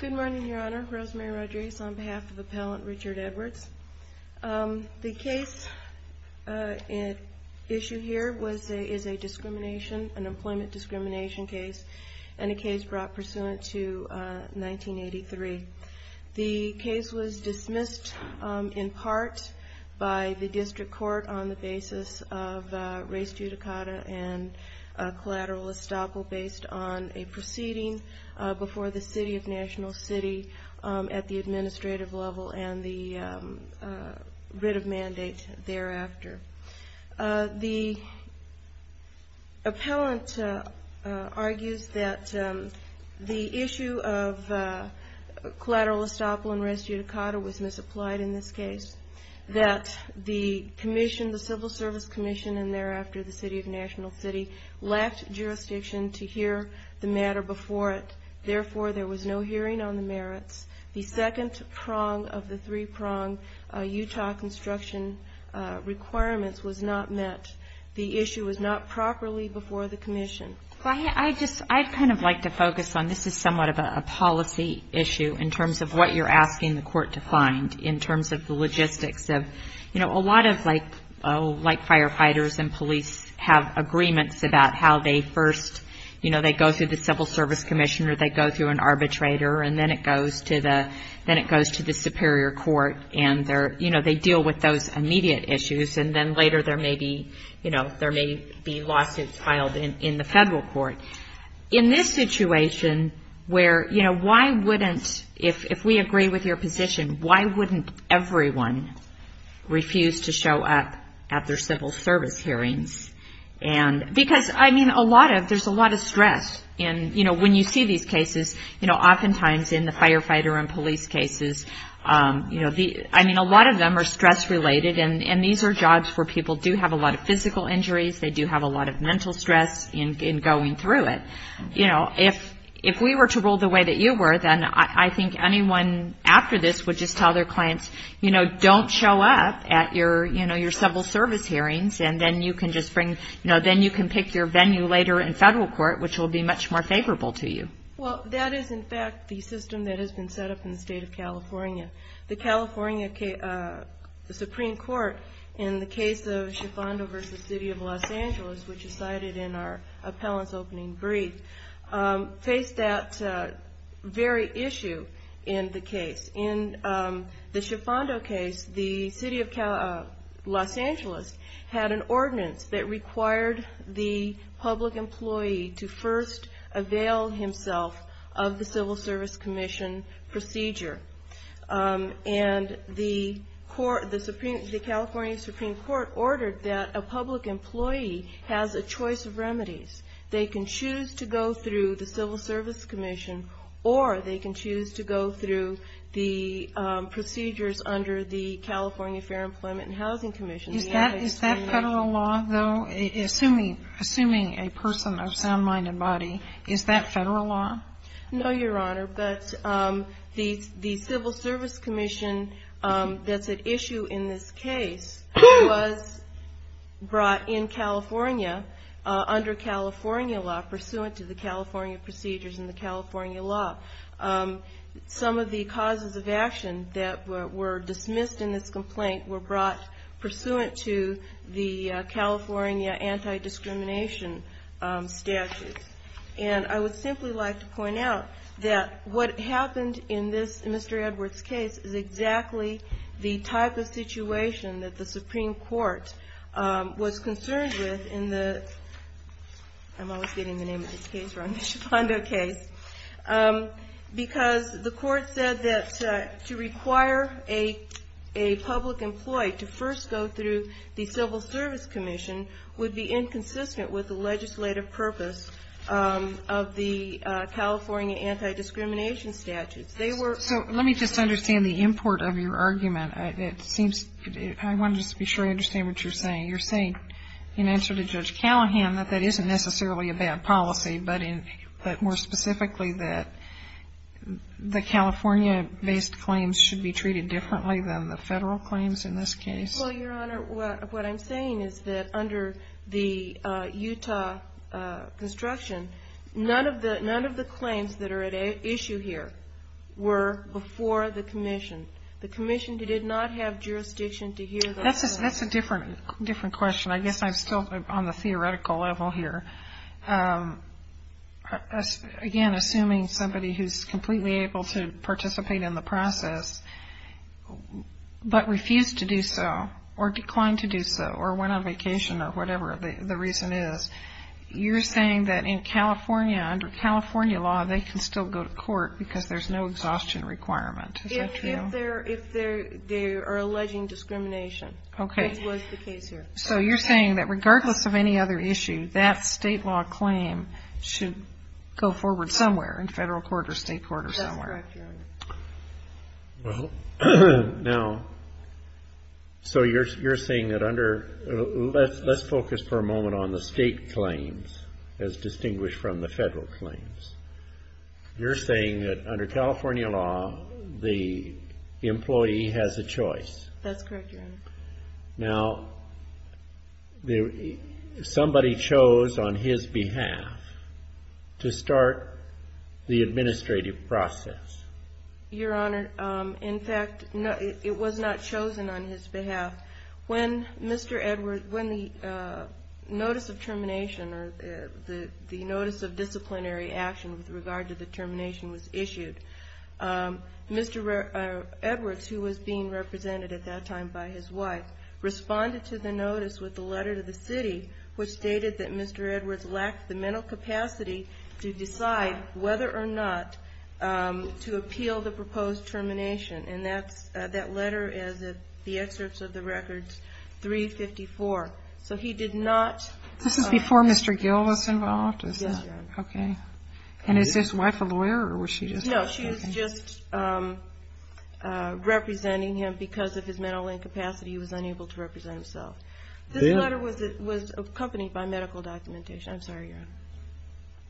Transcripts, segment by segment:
Good morning, Your Honor. Rosemary Rodriguez on behalf of Appellant Richard Edwards. The case at issue here is a discrimination, an employment discrimination case, and a case brought pursuant to 1983. The case was dismissed in part by the District Court on the basis of race judicata and collateral estoppel based on a proceeding before the City of National City at the administrative level and the writ of mandate thereafter. The appellant argues that the issue of collateral estoppel and race judicata was misapplied in this case, that the commission, the Civil Service Commission, and thereafter the City of National City, lacked jurisdiction to hear the matter before it. Therefore, there was no hearing on the merits. The second prong of the three-prong Utah construction requirements was not met. The issue was not properly before the commission. I'd kind of like to focus on this is somewhat of a policy issue in terms of what you're asking the court to find in terms of the logistics of, you know, a lot of like firefighters and police have agreements about how they first, you know, they go through the Civil Service Commission or they go through an arbitrator and then it goes to the Superior Court and they're, you know, they deal with those immediate issues and then later there may be, you know, there may be lawsuits filed in the federal court. In this situation where, you know, why wouldn't, if we agree with your position, why wouldn't everyone refuse to show up at their civil service hearings? And because, I mean, a lot of, there's a lot of stress in, you know, when you see these cases, you know, oftentimes in the firefighter and police cases, you know, I mean, a lot of them are stress-related and these are jobs where people do have a lot of physical injuries, they do have a lot of mental stress in going through it. You know, if we were to rule the way that you were, then I think anyone after this would just tell their clients, you know, don't show up at your, you know, your civil service hearings and then you can just bring, you know, then you can pick your venue later in federal court, which will be much more favorable to you. Well, that is, in fact, the system that has been set up in the state of California. The California Supreme Court, in the case of Schifando v. City of Los Angeles, which is cited in our appellant's opening brief, faced that very issue in the case. In the Schifando case, the City of Los Angeles had an ordinance that required the public employee to first avail himself of the Civil Service Commission procedure. And the California Supreme Court ordered that a public employee has a choice of remedies. They can choose to go through the Civil Service Commission or they can choose to go through the procedures under the California Fair Employment and Housing Commission. Is that federal law, though? Assuming a person of sound mind and body, is that federal law? No, Your Honor. But the Civil Service Commission that's at issue in this case was brought in California under California law, pursuant to the California procedures and the California law. Some of the causes of action that were dismissed in this complaint were brought pursuant to the California anti-discrimination statutes. And I would simply like to point out that what happened in Mr. Edwards' case is exactly the type of situation that the court said that to require a public employee to first go through the Civil Service Commission would be inconsistent with the legislative purpose of the California anti-discrimination statutes. They were ---- So let me just understand the import of your argument. It seems to me, I want to just be sure I understand what you're saying. You're saying, in answer to Judge Callahan, that that isn't necessarily a bad policy, but more specifically that the California-based claims should be treated differently than the federal claims in this case? Well, Your Honor, what I'm saying is that under the Utah construction, none of the claims that are at issue here were before the commission. The commission did not have jurisdiction to hear those claims. That's a different question. I guess I'm still on the theoretical level here. Again, assuming somebody who's completely able to participate in the process but refused to do so or declined to do so or went on vacation or whatever the reason is, you're saying that in California, under California law, they can still go to court because there's no exhaustion requirement. Is that true? If they are alleging discrimination. Okay. That was the case here. So you're saying that regardless of any other issue, that state law claim should go forward somewhere in federal court or state court or somewhere. That's correct, Your Honor. Well, now, so you're saying that under ---- Let's focus for a moment on the state claims as distinguished from the federal claims. You're saying that under California law, the employee has a choice. That's correct, Your Honor. Now, somebody chose on his behalf to start the administrative process. Your Honor, in fact, it was not chosen on his behalf. When the notice of termination or the notice of disciplinary action with regard to the termination was issued, Mr. Edwards, who was being represented at that time by his wife, responded to the notice with a letter to the city which stated that Mr. Edwards lacked the mental capacity to decide whether or not to appeal the proposed termination. And that letter is the excerpts of the records 354. So he did not ---- This is before Mr. Gill was involved? Yes, Your Honor. Okay. And is his wife a lawyer or was she just ---- No, she was just representing him because of his mental incapacity. He was unable to represent himself. This letter was accompanied by medical documentation. I'm sorry, Your Honor.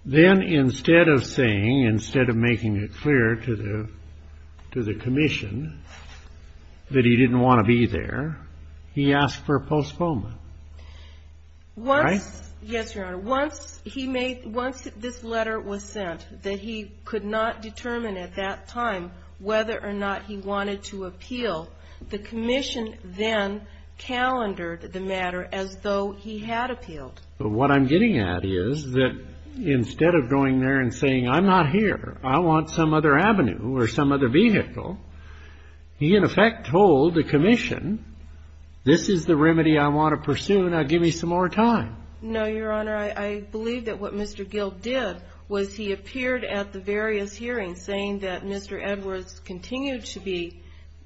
Then instead of saying, instead of making it clear to the commission that he didn't want to be there, he asked for a postponement. Right? Yes, Your Honor. Once he made ---- once this letter was sent that he could not determine at that time whether or not he wanted to appeal, the commission then calendared the matter as though he had appealed. What I'm getting at is that instead of going there and saying, I'm not here, I want some other avenue or some other vehicle, he in effect told the commission, this is the remedy I want to pursue, now give me some more time. No, Your Honor. I believe that what Mr. Gill did was he appeared at the various hearings saying that Mr. Edwards continued to be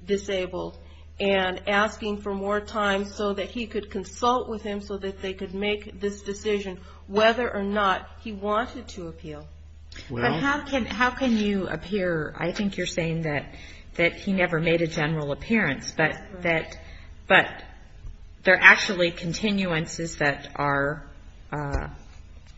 disabled and asking for more time so that he could consult with him so that they could make this decision whether or not he wanted to appeal. But how can you appear ---- I think you're saying that he never made a general appearance, but there are actually continuances that are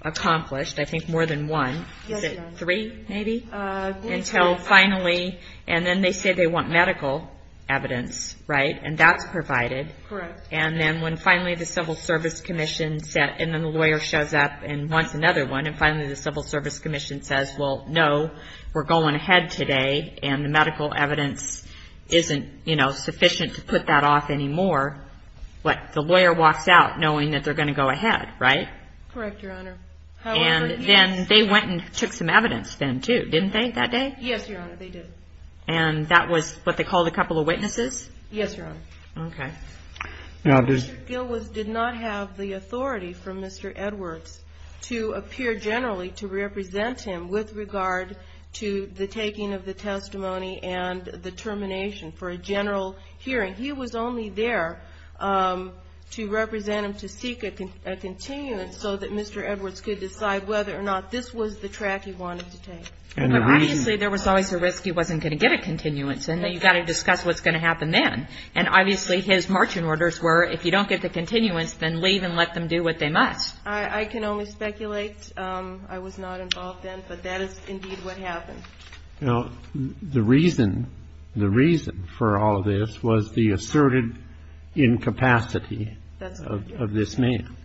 accomplished, I think more than one. Yes, Your Honor. Three, maybe? Until finally, and then they say they want medical evidence, right? And that's provided. Correct. And then when finally the Civil Service Commission said, and then the lawyer shows up and wants another one, and finally the Civil Service Commission says, well, no, we're going ahead today, and the medical evidence isn't, you know, sufficient to put that off anymore, but the lawyer walks out knowing that they're going to go ahead, right? Correct, Your Honor. And then they went and took some evidence then too, didn't they, that day? Yes, Your Honor, they did. And that was what they called a couple of witnesses? Yes, Your Honor. Okay. Mr. Gill did not have the authority from Mr. Edwards to appear generally to represent him with regard to the taking of the testimony and the termination for a general hearing. He was only there to represent him, to seek a continuance, so that Mr. Edwards could decide whether or not this was the track he wanted to take. Obviously, there was always a risk he wasn't going to get a continuance, and you've got to discuss what's going to happen then. And obviously, his marching orders were, if you don't get the continuance, then leave and let them do what they must. I can only speculate. I was not involved then, but that is indeed what happened. The reason for all of this was the asserted incapacity of this man.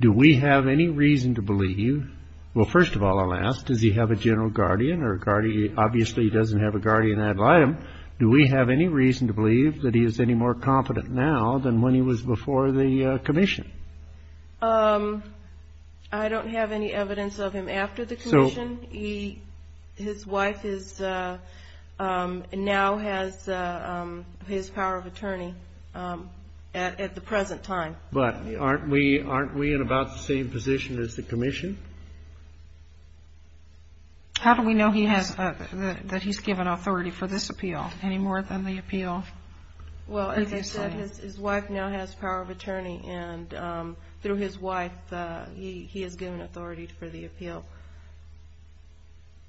Do we have any reason to believe, well, first of all, alas, does he have a general guardian? Obviously, he doesn't have a guardian ad litem. Do we have any reason to believe that he is any more competent now than when he was before the commission? I don't have any evidence of him after the commission. His wife now has his power of attorney at the present time. But aren't we in about the same position as the commission? How do we know that he's given authority for this appeal any more than the appeal? Well, as I said, his wife now has power of attorney, and through his wife he has given authority for the appeal.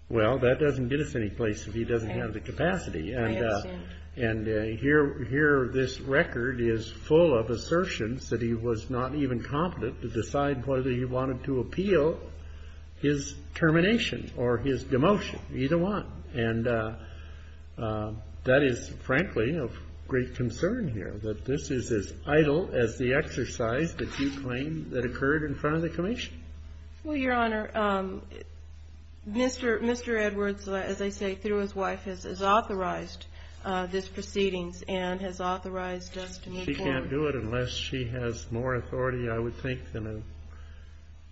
Well, that doesn't get us any place if he doesn't have the capacity. I understand. And here this record is full of assertions that he was not even competent to decide whether he wanted to appeal his termination or his demotion, either one. And that is, frankly, of great concern here, that this is as idle as the exercise that you claim that occurred in front of the commission. Well, Your Honor, Mr. Edwards, as I say, through his wife, has authorized this proceedings and has authorized us to move forward. She can't do it unless she has more authority, I would think,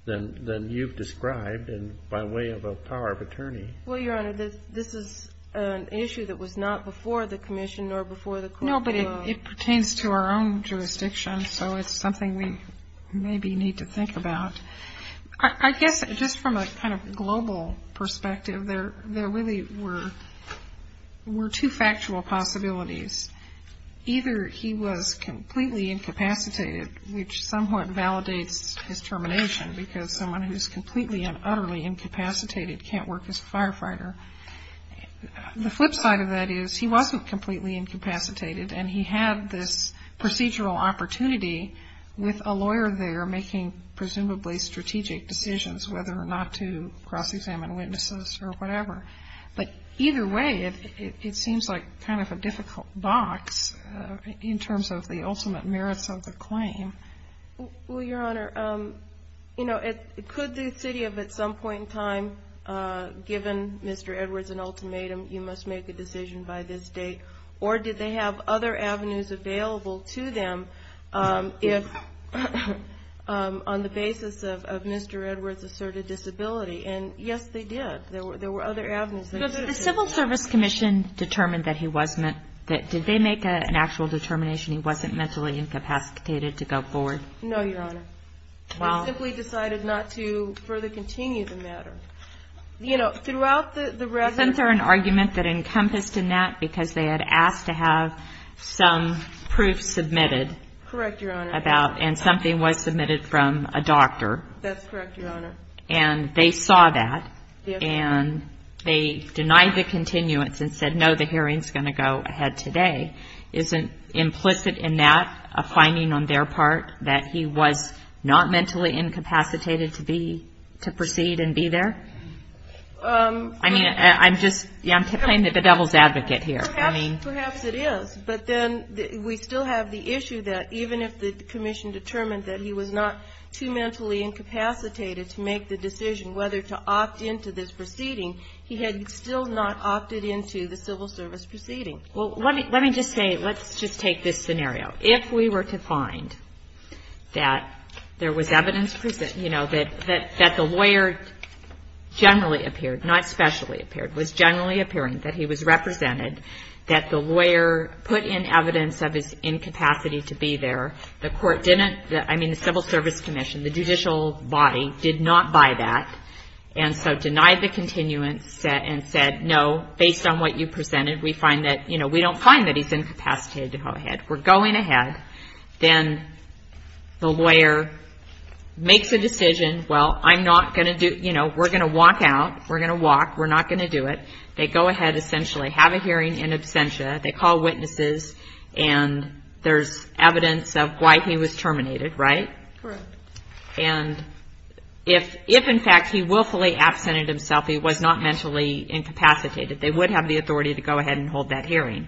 than you've described by way of a power of attorney. Well, Your Honor, this is an issue that was not before the commission nor before the court. No, but it pertains to our own jurisdiction, so it's something we maybe need to think about. I guess just from a kind of global perspective, there really were two factual possibilities. Either he was completely incapacitated, which somewhat validates his termination, because someone who is completely and utterly incapacitated can't work as a firefighter. The flip side of that is he wasn't completely incapacitated, and he had this procedural opportunity with a lawyer there making presumably strategic decisions whether or not to cross-examine witnesses or whatever. But either way, it seems like kind of a difficult box in terms of the ultimate merits of the claim. Well, Your Honor, you know, could the city have at some point in time given Mr. Edwards an ultimatum, you must make a decision by this date? Or did they have other avenues available to them on the basis of Mr. Edwards' asserted disability? And, yes, they did. There were other avenues. The Civil Service Commission determined that he wasn't. Did they make an actual determination he wasn't mentally incapacitated to go forward? No, Your Honor. Wow. They simply decided not to further continue the matter. You know, throughout the record. Isn't there an argument that encompassed in that because they had asked to have some proof submitted? Correct, Your Honor. About, and something was submitted from a doctor. That's correct, Your Honor. And they saw that. Yes, Your Honor. And they denied the continuance and said, no, the hearing's going to go ahead today. Isn't implicit in that a finding on their part that he was not mentally incapacitated to be, to proceed and be there? I mean, I'm just, yeah, I'm playing the devil's advocate here. I mean. Perhaps it is. But then we still have the issue that even if the commission determined that he was not too mentally incapacitated to make the decision whether to opt into this proceeding, he had still not opted into the Civil Service proceeding. Well, let me just say, let's just take this scenario. If we were to find that there was evidence, you know, that the lawyer generally appeared, not specially appeared, was generally appearing, that he was represented, that the lawyer put in evidence of his incapacity to be there, the court didn't, I mean, the Civil Service Commission, the judicial body did not buy that, and so denied the continuance and said, no, based on what you presented, we find that, you know, we don't find that he's incapacitated to go ahead. We're going ahead. Then the lawyer makes a decision, well, I'm not going to do, you know, we're going to walk out. We're going to walk. We're not going to do it. They go ahead, essentially have a hearing in absentia. They call witnesses, and there's evidence of why he was terminated, right? Correct. And if, in fact, he willfully absented himself, he was not mentally incapacitated, they would have the authority to go ahead and hold that hearing.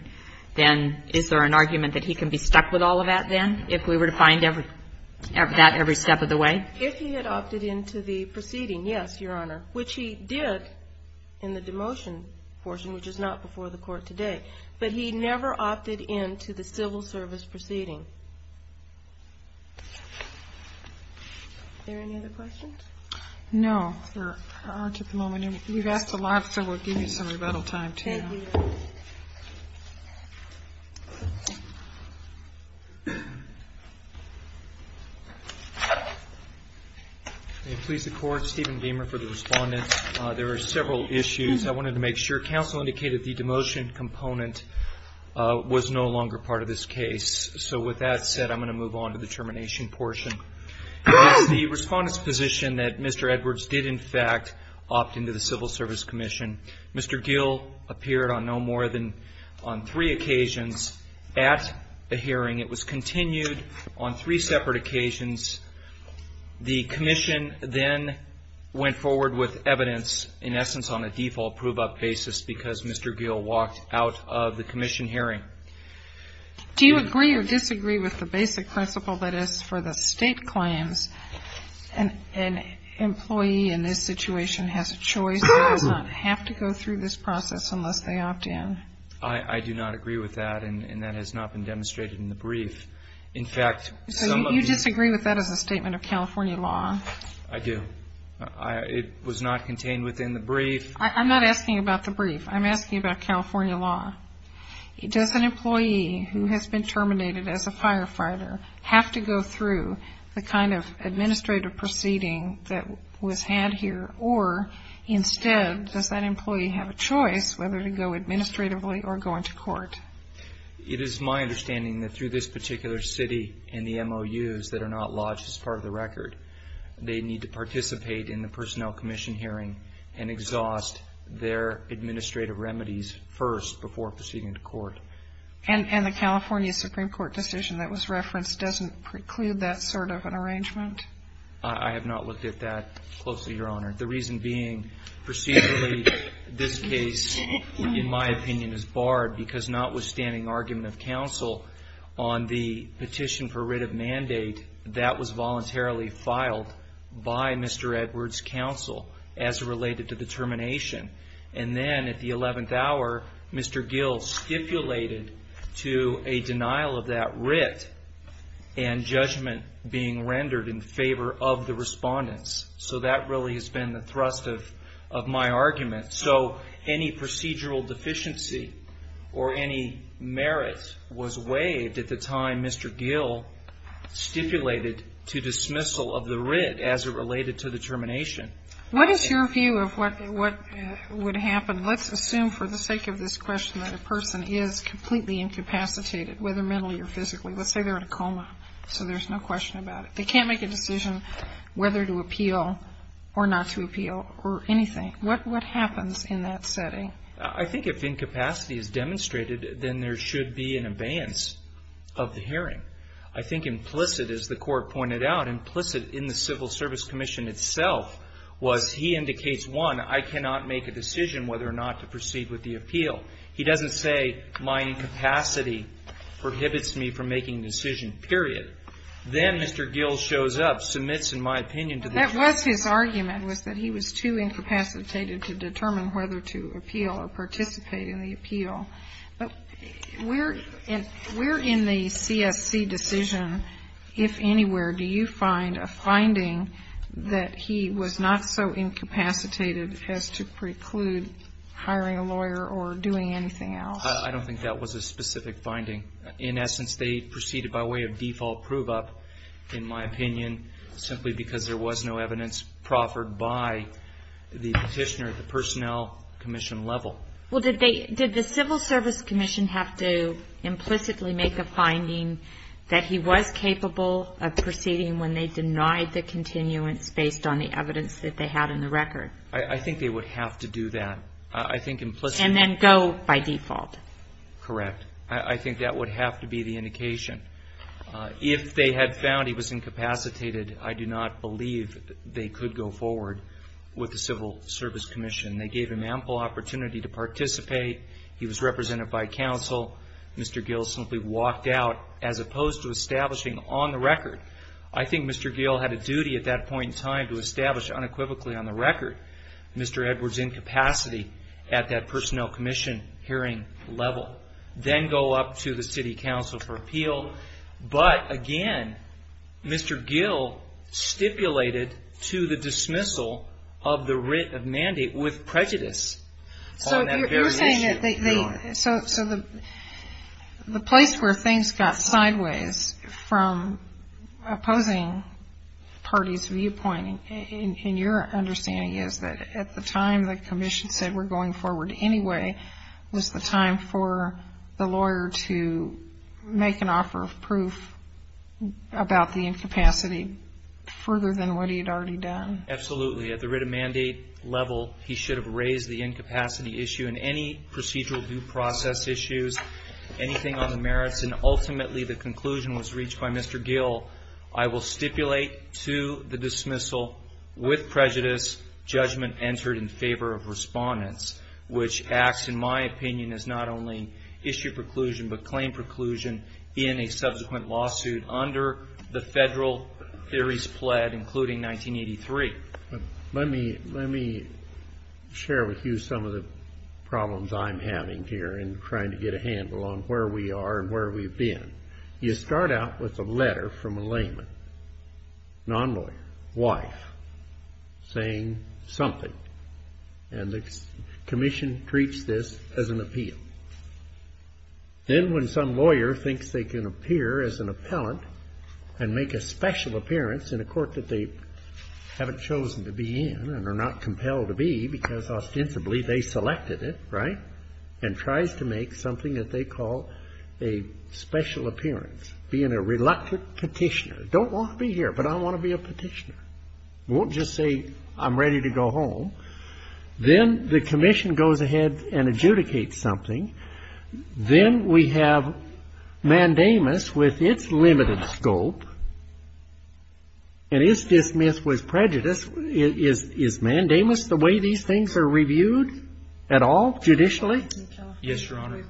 Then is there an argument that he can be stuck with all of that then, if we were to find that every step of the way? If he had opted into the proceeding, yes, Your Honor, which he did in the demotion portion, which is not before the Court today, but he never opted into the civil service proceeding. Are there any other questions? No, there aren't at the moment. We've asked a lot, so we'll give you some rebuttal time, too. Thank you. May it please the Court, Stephen Diemer for the respondents. There are several issues. I wanted to make sure. Counsel indicated the demotion component was no longer part of this case. So with that said, I'm going to move on to the termination portion. It's the respondent's position that Mr. Edwards did, in fact, opt into the Civil Service Commission. Mr. Gill appeared on no more than three occasions at the hearing. It was continued on three separate occasions. The commission then went forward with evidence, in essence, on a default prove-up basis because Mr. Gill walked out of the commission hearing. Do you agree or disagree with the basic principle that is for the state claims, an employee in this situation has a choice, does not have to go through this process unless they opt in? I do not agree with that, and that has not been demonstrated in the brief. So you disagree with that as a statement of California law? I do. It was not contained within the brief. I'm not asking about the brief. I'm asking about California law. Does an employee who has been terminated as a firefighter have to go through the kind of administrative proceeding that was had here, or instead, does that employee have a choice whether to go administratively or go into court? It is my understanding that through this particular city and the MOUs that are not lodged as part of the record, they need to participate in the personnel commission hearing and exhaust their administrative remedies first before proceeding to court. And the California Supreme Court decision that was referenced doesn't preclude that sort of an arrangement? I have not looked at that closely, Your Honor. The reason being, procedurally, this case, in my opinion, is barred because notwithstanding argument of counsel on the petition for writ of mandate, that was voluntarily filed by Mr. Edwards' counsel as related to the termination. And then at the 11th hour, Mr. Gill stipulated to a denial of that writ and judgment being rendered in favor of the respondents. So that really has been the thrust of my argument. So any procedural deficiency or any merit was waived at the time Mr. Gill stipulated to dismissal of the writ as it related to the termination. What is your view of what would happen? Let's assume for the sake of this question that a person is completely incapacitated, whether mentally or physically. Let's say they're in a coma, so there's no question about it. They can't make a decision whether to appeal or not to appeal or anything. What happens in that setting? I think if incapacity is demonstrated, then there should be an abeyance of the hearing. I think implicit, as the Court pointed out, implicit in the Civil Service Commission itself was he indicates, one, I cannot make a decision whether or not to proceed with the appeal. He doesn't say my incapacity prohibits me from making a decision, period. Then Mr. Gill shows up, submits, in my opinion, to the jury. That was his argument, was that he was too incapacitated to determine whether to appeal or participate in the appeal. But where in the CSC decision, if anywhere, do you find a finding that he was not so incapacitated as to preclude hiring a lawyer or doing anything else? I don't think that was a specific finding. In essence, they proceeded by way of default prove-up, in my opinion, simply because there was no evidence proffered by the petitioner at the Personnel Commission level. Well, did the Civil Service Commission have to implicitly make a finding that he was capable of proceeding when they denied the continuance based on the evidence that they had in the record? I think they would have to do that. And then go by default? Correct. I think that would have to be the indication. If they had found he was incapacitated, I do not believe they could go forward with the Civil Service Commission. They gave him ample opportunity to participate. He was represented by counsel. Mr. Gill simply walked out, as opposed to establishing on the record. I think Mr. Gill had a duty at that point in time to establish unequivocally on the record Mr. Edwards' incapacity at that Personnel Commission hearing level. Then go up to the City Council for appeal. But, again, Mr. Gill stipulated to the dismissal of the writ of mandate with prejudice on that very issue. So the place where things got sideways from opposing parties' viewpoint, and your understanding is that at the time the Commission said we're going forward anyway, was the time for the lawyer to make an offer of proof about the incapacity further than what he had already done. Absolutely. At the writ of mandate level, he should have raised the incapacity issue, and any procedural due process issues, anything on the merits, and ultimately the conclusion was reached by Mr. Gill, I will stipulate to the dismissal with prejudice judgment entered in favor of respondents, which acts, in my opinion, as not only issue preclusion, but claim preclusion in a subsequent lawsuit under the federal theories pled, including 1983. Let me share with you some of the problems I'm having here in trying to get a handle on where we are and where we've been. You start out with a letter from a layman, non-lawyer, wife, saying something, and the Commission treats this as an appeal. Then when some lawyer thinks they can appear as an appellant and make a special appearance in a court that they haven't chosen to be in and are not compelled to be because ostensibly they selected it, right, and tries to make something that they call a special appearance, being a reluctant petitioner. Don't want to be here, but I want to be a petitioner. Won't just say I'm ready to go home. Then the Commission goes ahead and adjudicates something. Then we have mandamus with its limited scope and is dismissed with prejudice. Is mandamus the way these things are reviewed at all, judicially? Yes, Your Honor.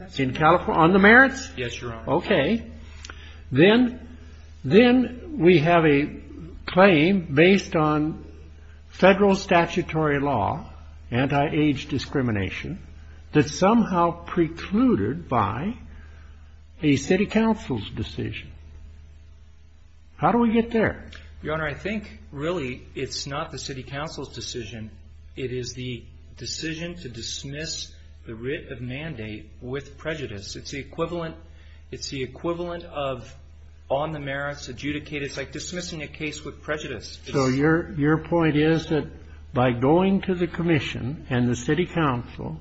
On the merits? Yes, Your Honor. Okay. Then we have a claim based on federal statutory law, anti-age discrimination, that's somehow precluded by a city council's decision. How do we get there? Your Honor, I think really it's not the city council's decision. It is the decision to dismiss the writ of mandate with prejudice. It's the equivalent of on the merits adjudicated. It's like dismissing a case with prejudice. So your point is that by going to the Commission and the city council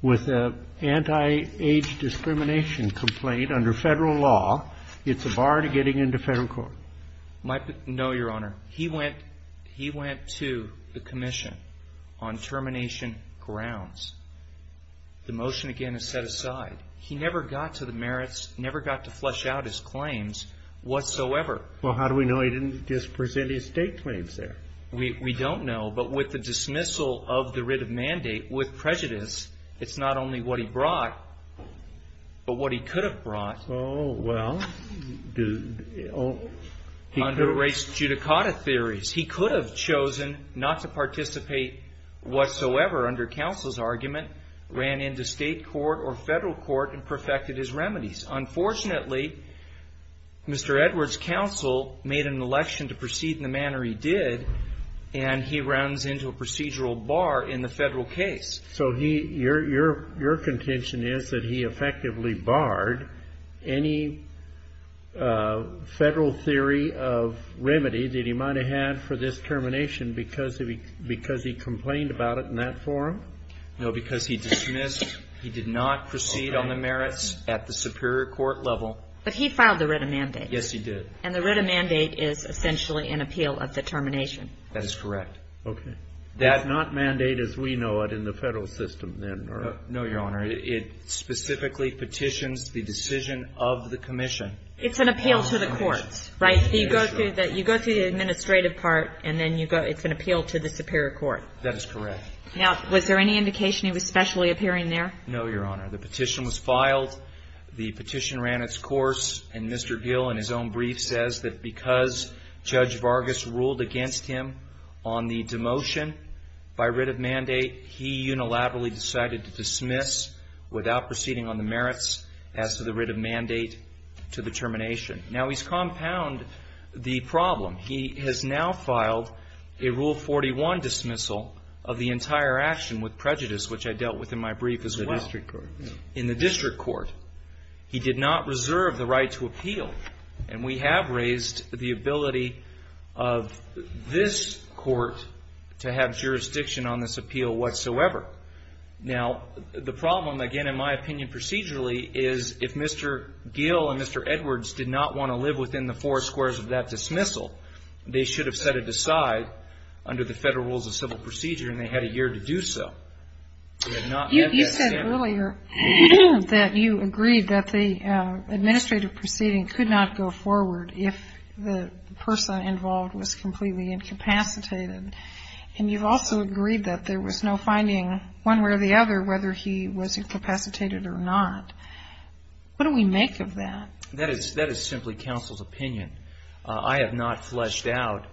with an anti-age discrimination complaint under federal law, it's a bar to getting into federal court? No, Your Honor. He went to the Commission on termination grounds. The motion, again, is set aside. He never got to the merits, never got to flesh out his claims whatsoever. Well, how do we know he didn't just present his state claims there? We don't know. But with the dismissal of the writ of mandate with prejudice, it's not only what he brought but what he could have brought. Oh, well. Under race judicata theories, he could have chosen not to participate whatsoever under counsel's argument, ran into state court or federal court, and perfected his remedies. Unfortunately, Mr. Edwards' counsel made an election to proceed in the manner he did, and he runs into a procedural bar in the federal case. So your contention is that he effectively barred any federal theory of remedy that he might have had for this termination because he complained about it in that forum? No, because he dismissed, he did not proceed on the merits at the superior court level. But he filed the writ of mandate. Yes, he did. And the writ of mandate is essentially an appeal of the termination. That is correct. Okay. That not mandate as we know it in the federal system, then, or? No, Your Honor. It specifically petitions the decision of the Commission. It's an appeal to the courts, right? You go through the administrative part, and then you go, it's an appeal to the superior court. That is correct. Now, was there any indication he was specially appearing there? No, Your Honor. The petition was filed. The petition ran its course. And Mr. Gill, in his own brief, says that because Judge Vargas ruled against him on the demotion by writ of mandate, he unilaterally decided to dismiss without proceeding on the merits as to the writ of mandate to the termination. Now, he's compounded the problem. He has now filed a Rule 41 dismissal of the entire action with prejudice, which I dealt with in my brief as well. In the district court. In the district court. He did not reserve the right to appeal. And we have raised the ability of this court to have jurisdiction on this appeal whatsoever. Now, the problem, again, in my opinion procedurally, is if Mr. Gill and Mr. Edwards did not want to live within the four squares of that dismissal, they should have set it aside under the Federal Rules of Civil Procedure, and they had a year to do so. You said earlier that you agreed that the administrative proceeding could not go forward if the person involved was completely incapacitated. And you've also agreed that there was no finding one way or the other whether he was incapacitated or not. What do we make of that? That is simply counsel's opinion. I have not fleshed out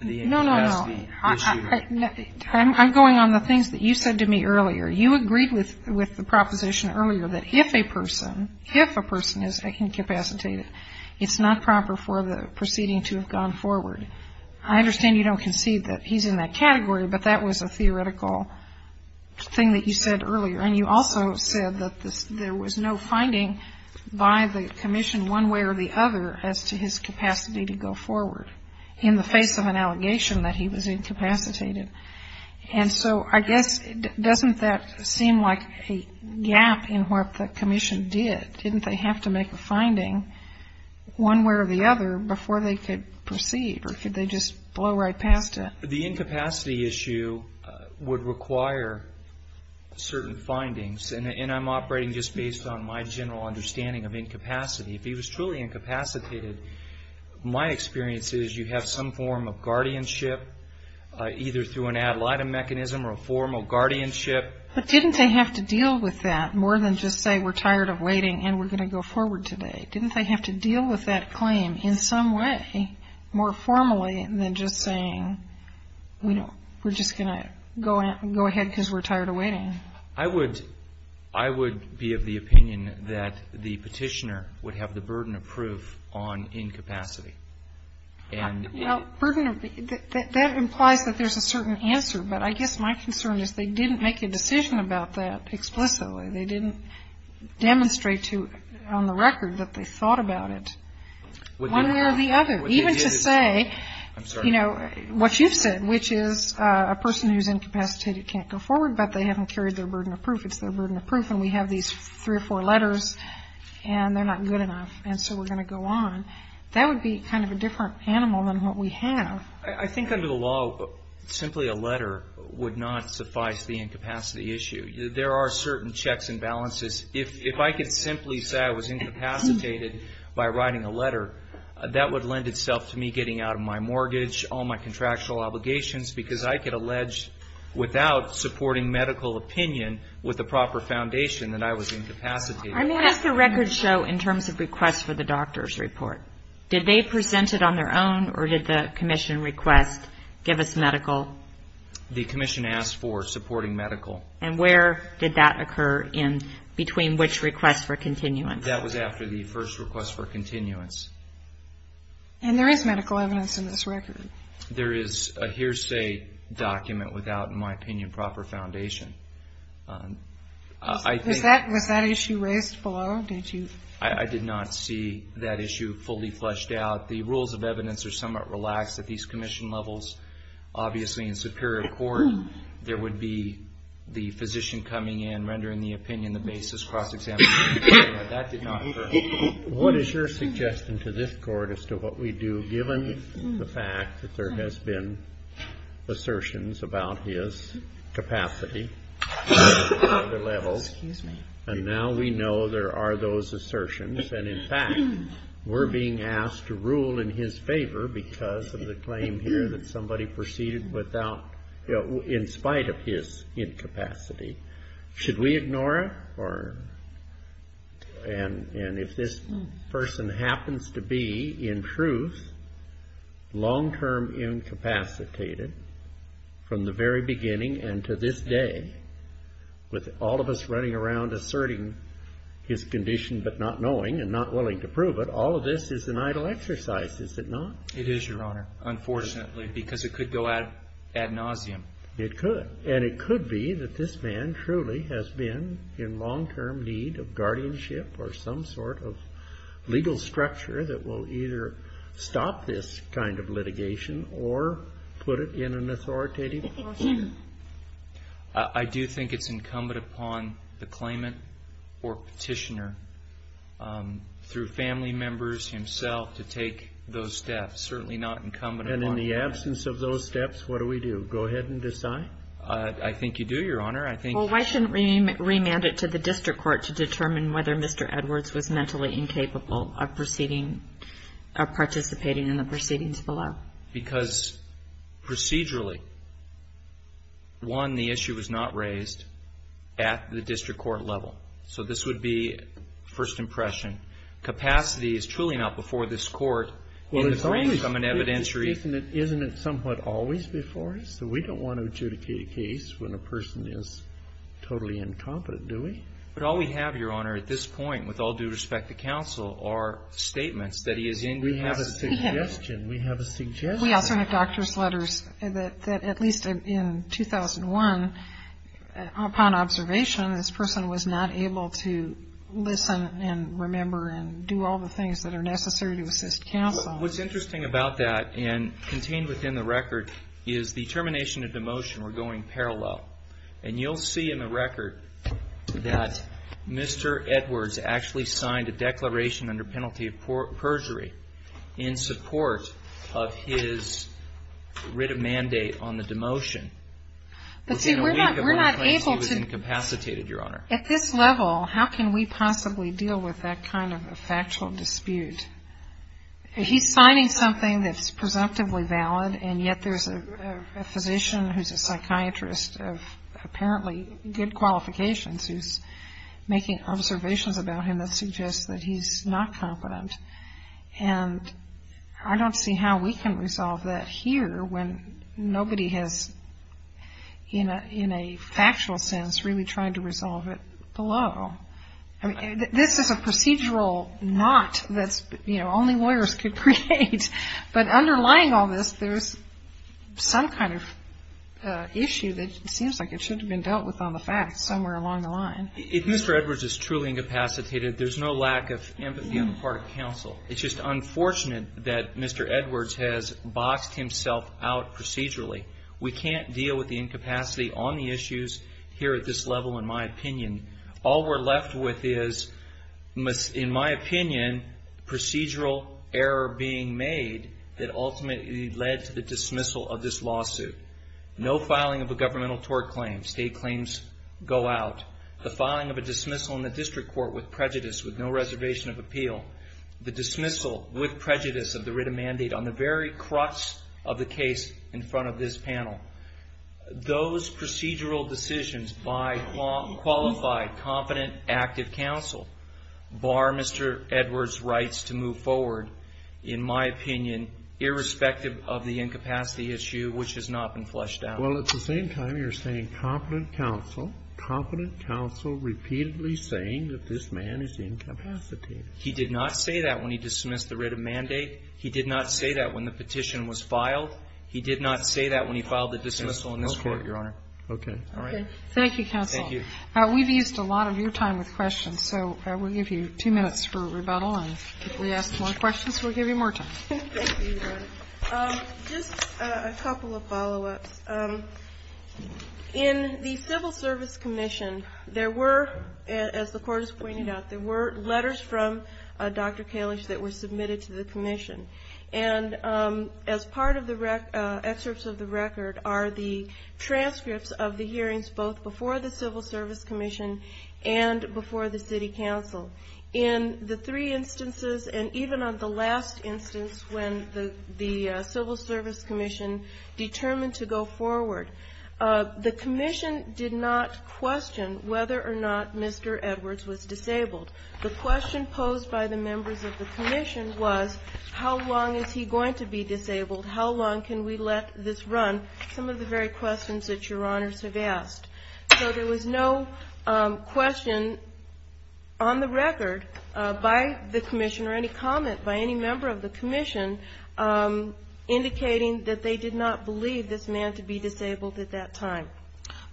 the incapacity issue. No, no, no. I'm going on the things that you said to me earlier. You agreed with the proposition earlier that if a person, if a person is incapacitated, it's not proper for the proceeding to have gone forward. I understand you don't concede that he's in that category, but that was a theoretical thing that you said earlier. And you also said that there was no finding by the commission one way or the other as to his capacity to go forward in the face of an allegation that he was incapacitated. And so I guess doesn't that seem like a gap in what the commission did? Didn't they have to make a finding one way or the other before they could proceed or could they just blow right past it? The incapacity issue would require certain findings, and I'm operating just based on my general understanding of incapacity. If he was truly incapacitated, my experience is you have some form of guardianship, either through an ad litem mechanism or a formal guardianship. But didn't they have to deal with that more than just say we're tired of waiting and we're going to go forward today? Didn't they have to deal with that claim in some way more formally than just saying we're just going to go ahead because we're tired of waiting? I would be of the opinion that the petitioner would have the burden of proof on incapacity. That implies that there's a certain answer, but I guess my concern is they didn't make a decision about that explicitly. They didn't demonstrate on the record that they thought about it one way or the other. Even to say, you know, what you said, which is a person who's incapacitated can't go forward, but they haven't carried their burden of proof. It's their burden of proof, and we have these three or four letters, and they're not good enough, and so we're going to go on. That would be kind of a different animal than what we have. I think under the law, simply a letter would not suffice the incapacity issue. There are certain checks and balances. If I could simply say I was incapacitated by writing a letter, that would lend itself to me getting out of my mortgage, all my contractual obligations, because I could allege without supporting medical opinion with the proper foundation that I was incapacitated. I mean, what does the record show in terms of requests for the doctor's report? Did they present it on their own, or did the commission request, give us medical? The commission asked for supporting medical. And where did that occur in between which request for continuance? That was after the first request for continuance. And there is medical evidence in this record. There is a hearsay document without, in my opinion, proper foundation. Was that issue raised below? I did not see that issue fully fleshed out. The rules of evidence are somewhat relaxed at these commission levels. Obviously, in superior court, there would be the physician coming in, rendering the opinion, the basis, cross-examination. That did not occur. What is your suggestion to this court as to what we do, given the fact that there has been assertions about his capacity at other levels? Excuse me. And now we know there are those assertions. And, in fact, we're being asked to rule in his favor because of the claim here that somebody proceeded without, in spite of his incapacity. Should we ignore it? And if this person happens to be, in truth, long-term incapacitated, from the very beginning and to this day, with all of us running around asserting his condition but not knowing and not willing to prove it, all of this is an idle exercise, is it not? It is, Your Honor, unfortunately, because it could go ad nauseum. It could. And it could be that this man truly has been in long-term need of guardianship or some sort of legal structure that will either stop this kind of litigation or put it in an authoritative portion. I do think it's incumbent upon the claimant or Petitioner, through family members, himself, to take those steps. Certainly not incumbent upon us. And in the absence of those steps, what do we do? Go ahead and decide. I think you do, Your Honor. I think you do. Well, why shouldn't we remand it to the district court to determine whether Mr. Edwards was mentally incapable of proceeding or participating in the proceedings below? Why? Because procedurally, one, the issue was not raised at the district court level. So this would be first impression. Capacity is truly not before this court. Well, isn't it somewhat always before us? So we don't want to adjudicate a case when a person is totally incompetent, do we? But all we have, Your Honor, at this point, with all due respect to counsel, are statements that he is incapable of proceeding. We have a suggestion. We have a suggestion. We also have doctor's letters that at least in 2001, upon observation, this person was not able to listen and remember and do all the things that are necessary to assist counsel. What's interesting about that, and contained within the record, is the termination of the motion were going parallel. But see, we're not able to. At this level, how can we possibly deal with that kind of a factual dispute? He's signing something that's presumptively valid, and yet there's a physician who's a psychiatrist of apparently good qualifications who's making observations about him that suggest that he's not capable of proceeding. And I don't see how we can resolve that here when nobody has in a factual sense really tried to resolve it below. I mean, this is a procedural knot that only lawyers could create. But underlying all this, there's some kind of issue that seems like it should have been dealt with on the facts somewhere along the line. If Mr. Edwards is truly incapacitated, there's no lack of empathy on the part of counsel. It's just unfortunate that Mr. Edwards has boxed himself out procedurally. We can't deal with the incapacity on the issues here at this level, in my opinion. All we're left with is, in my opinion, procedural error being made that ultimately led to the dismissal of this lawsuit. No filing of a governmental tort claim. State claims go out. The filing of a dismissal in the district court with prejudice, with no reservation of appeal. The dismissal with prejudice of the written mandate on the very crux of the case in front of this panel. Those procedural decisions by qualified, confident, active counsel bar Mr. Edwards' rights to move forward, in my opinion, irrespective of the incapacity issue, which has not been flushed out. Well, at the same time, you're saying confident counsel. Confident counsel repeatedly saying that this man is incapacitated. He did not say that when he dismissed the written mandate. He did not say that when the petition was filed. He did not say that when he filed the dismissal in this court, Your Honor. Okay. Thank you, counsel. Thank you. We've used a lot of your time with questions, so we'll give you two minutes for rebuttal. If we ask more questions, we'll give you more time. Thank you, Your Honor. Just a couple of follow-ups. In the Civil Service Commission, there were, as the court has pointed out, there were letters from Dr. Kalish that were submitted to the commission. And as part of the excerpts of the record are the transcripts of the hearings, both before the Civil Service Commission and before the city council. In the three instances, and even on the last instance, when the Civil Service Commission determined to go forward, the commission did not question whether or not Mr. Edwards was disabled. The question posed by the members of the commission was, how long is he going to be disabled? How long can we let this run? Some of the very questions that Your Honors have asked. So there was no question on the record by the commission or any comment by any member of the commission indicating that they did not believe this man to be disabled at that time.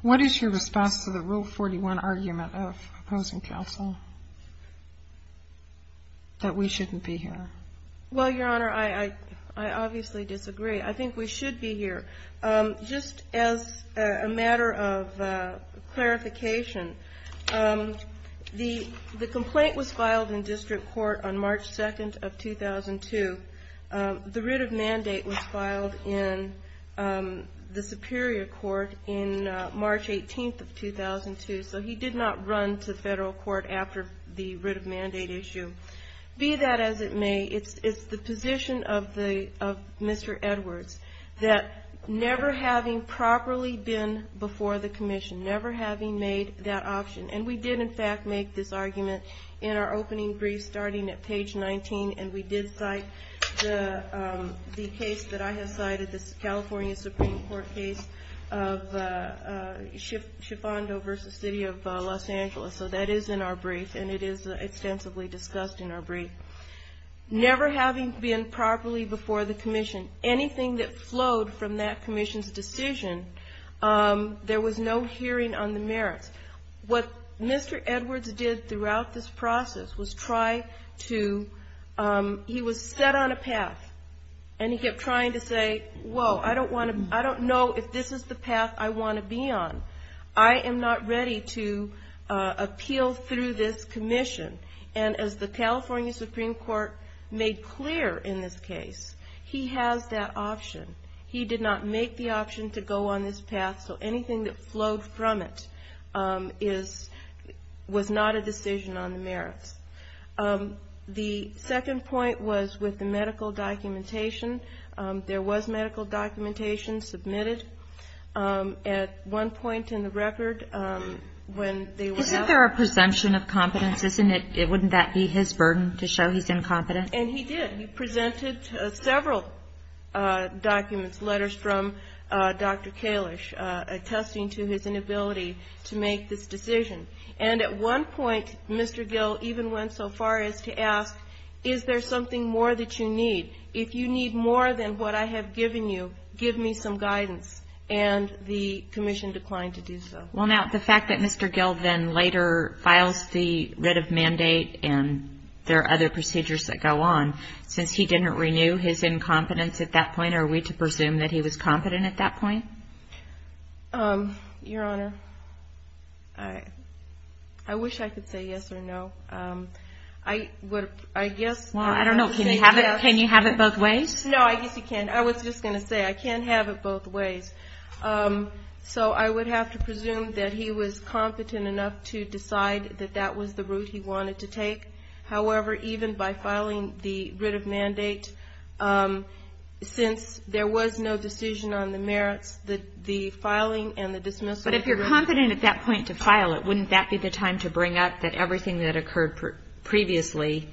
What is your response to the Rule 41 argument of opposing counsel, that we shouldn't be here? Well, Your Honor, I obviously disagree. I think we should be here. Just as a matter of clarification, the complaint was filed in district court on March 2nd of 2002. The writ of mandate was filed in the superior court on March 18th of 2002. So he did not run to federal court after the writ of mandate issue. Be that as it may, it's the position of Mr. Edwards that never having properly been before the commission, never having made that option, and we did, in fact, make this argument in our opening brief starting at page 19, and we did cite the case that I have cited, the California Supreme Court case of Schifando v. City of Los Angeles. So that is in our brief, and it is extensively discussed in our brief. Never having been properly before the commission, anything that flowed from that commission's decision, there was no hearing on the merits. What Mr. Edwards did throughout this process was try to he was set on a path, and he kept trying to say, whoa, I don't want to, I don't know if this is the path I want to be on. I am not ready to appeal through this commission. And as the California Supreme Court made clear in this case, he has that option. He did not make the option to go on this path, so anything that flowed from it was not a decision on the merits. The second point was with the medical documentation. There was medical documentation submitted. At one point in the record, when they were asked. Isn't there a presumption of competence? Wouldn't that be his burden to show he's incompetent? And he did. He presented several documents, letters from Dr. Kalish, attesting to his inability to make this decision. And at one point, Mr. Gill even went so far as to ask, is there something more that you need? If you need more than what I have given you, give me some guidance. And the commission declined to do so. Well, now, the fact that Mr. Gill then later files the writ of mandate and there are other procedures that go on, since he didn't renew his incompetence at that point, are we to presume that he was competent at that point? Your Honor, I wish I could say yes or no. I guess. Well, I don't know. Can you have it both ways? No, I guess you can't. I was just going to say, I can't have it both ways. So I would have to presume that he was competent enough to decide that that was the route he wanted to take. However, even by filing the writ of mandate, since there was no decision on the merits, the filing and the dismissal. But if you're competent at that point to file it, wouldn't that be the time to bring up that everything that occurred previously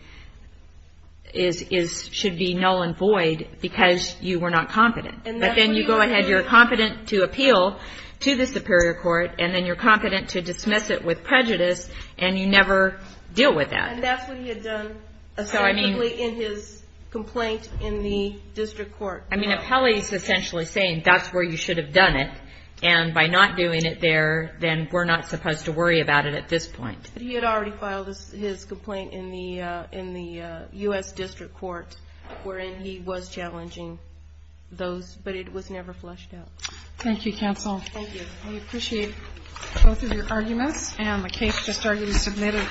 should be null and void because you were not competent? But then you go ahead, you're competent to appeal to the superior court, and then you're competent to dismiss it with prejudice, and you never deal with that. And that's what he had done, essentially, in his complaint in the district court. I mean, appellee is essentially saying that's where you should have done it, and by not doing it there, then we're not supposed to worry about it at this point. But he had already filed his complaint in the U.S. district court wherein he was challenging those, but it was never flushed out. Thank you, counsel. Thank you. We appreciate both of your arguments, and the case just started to be submitted.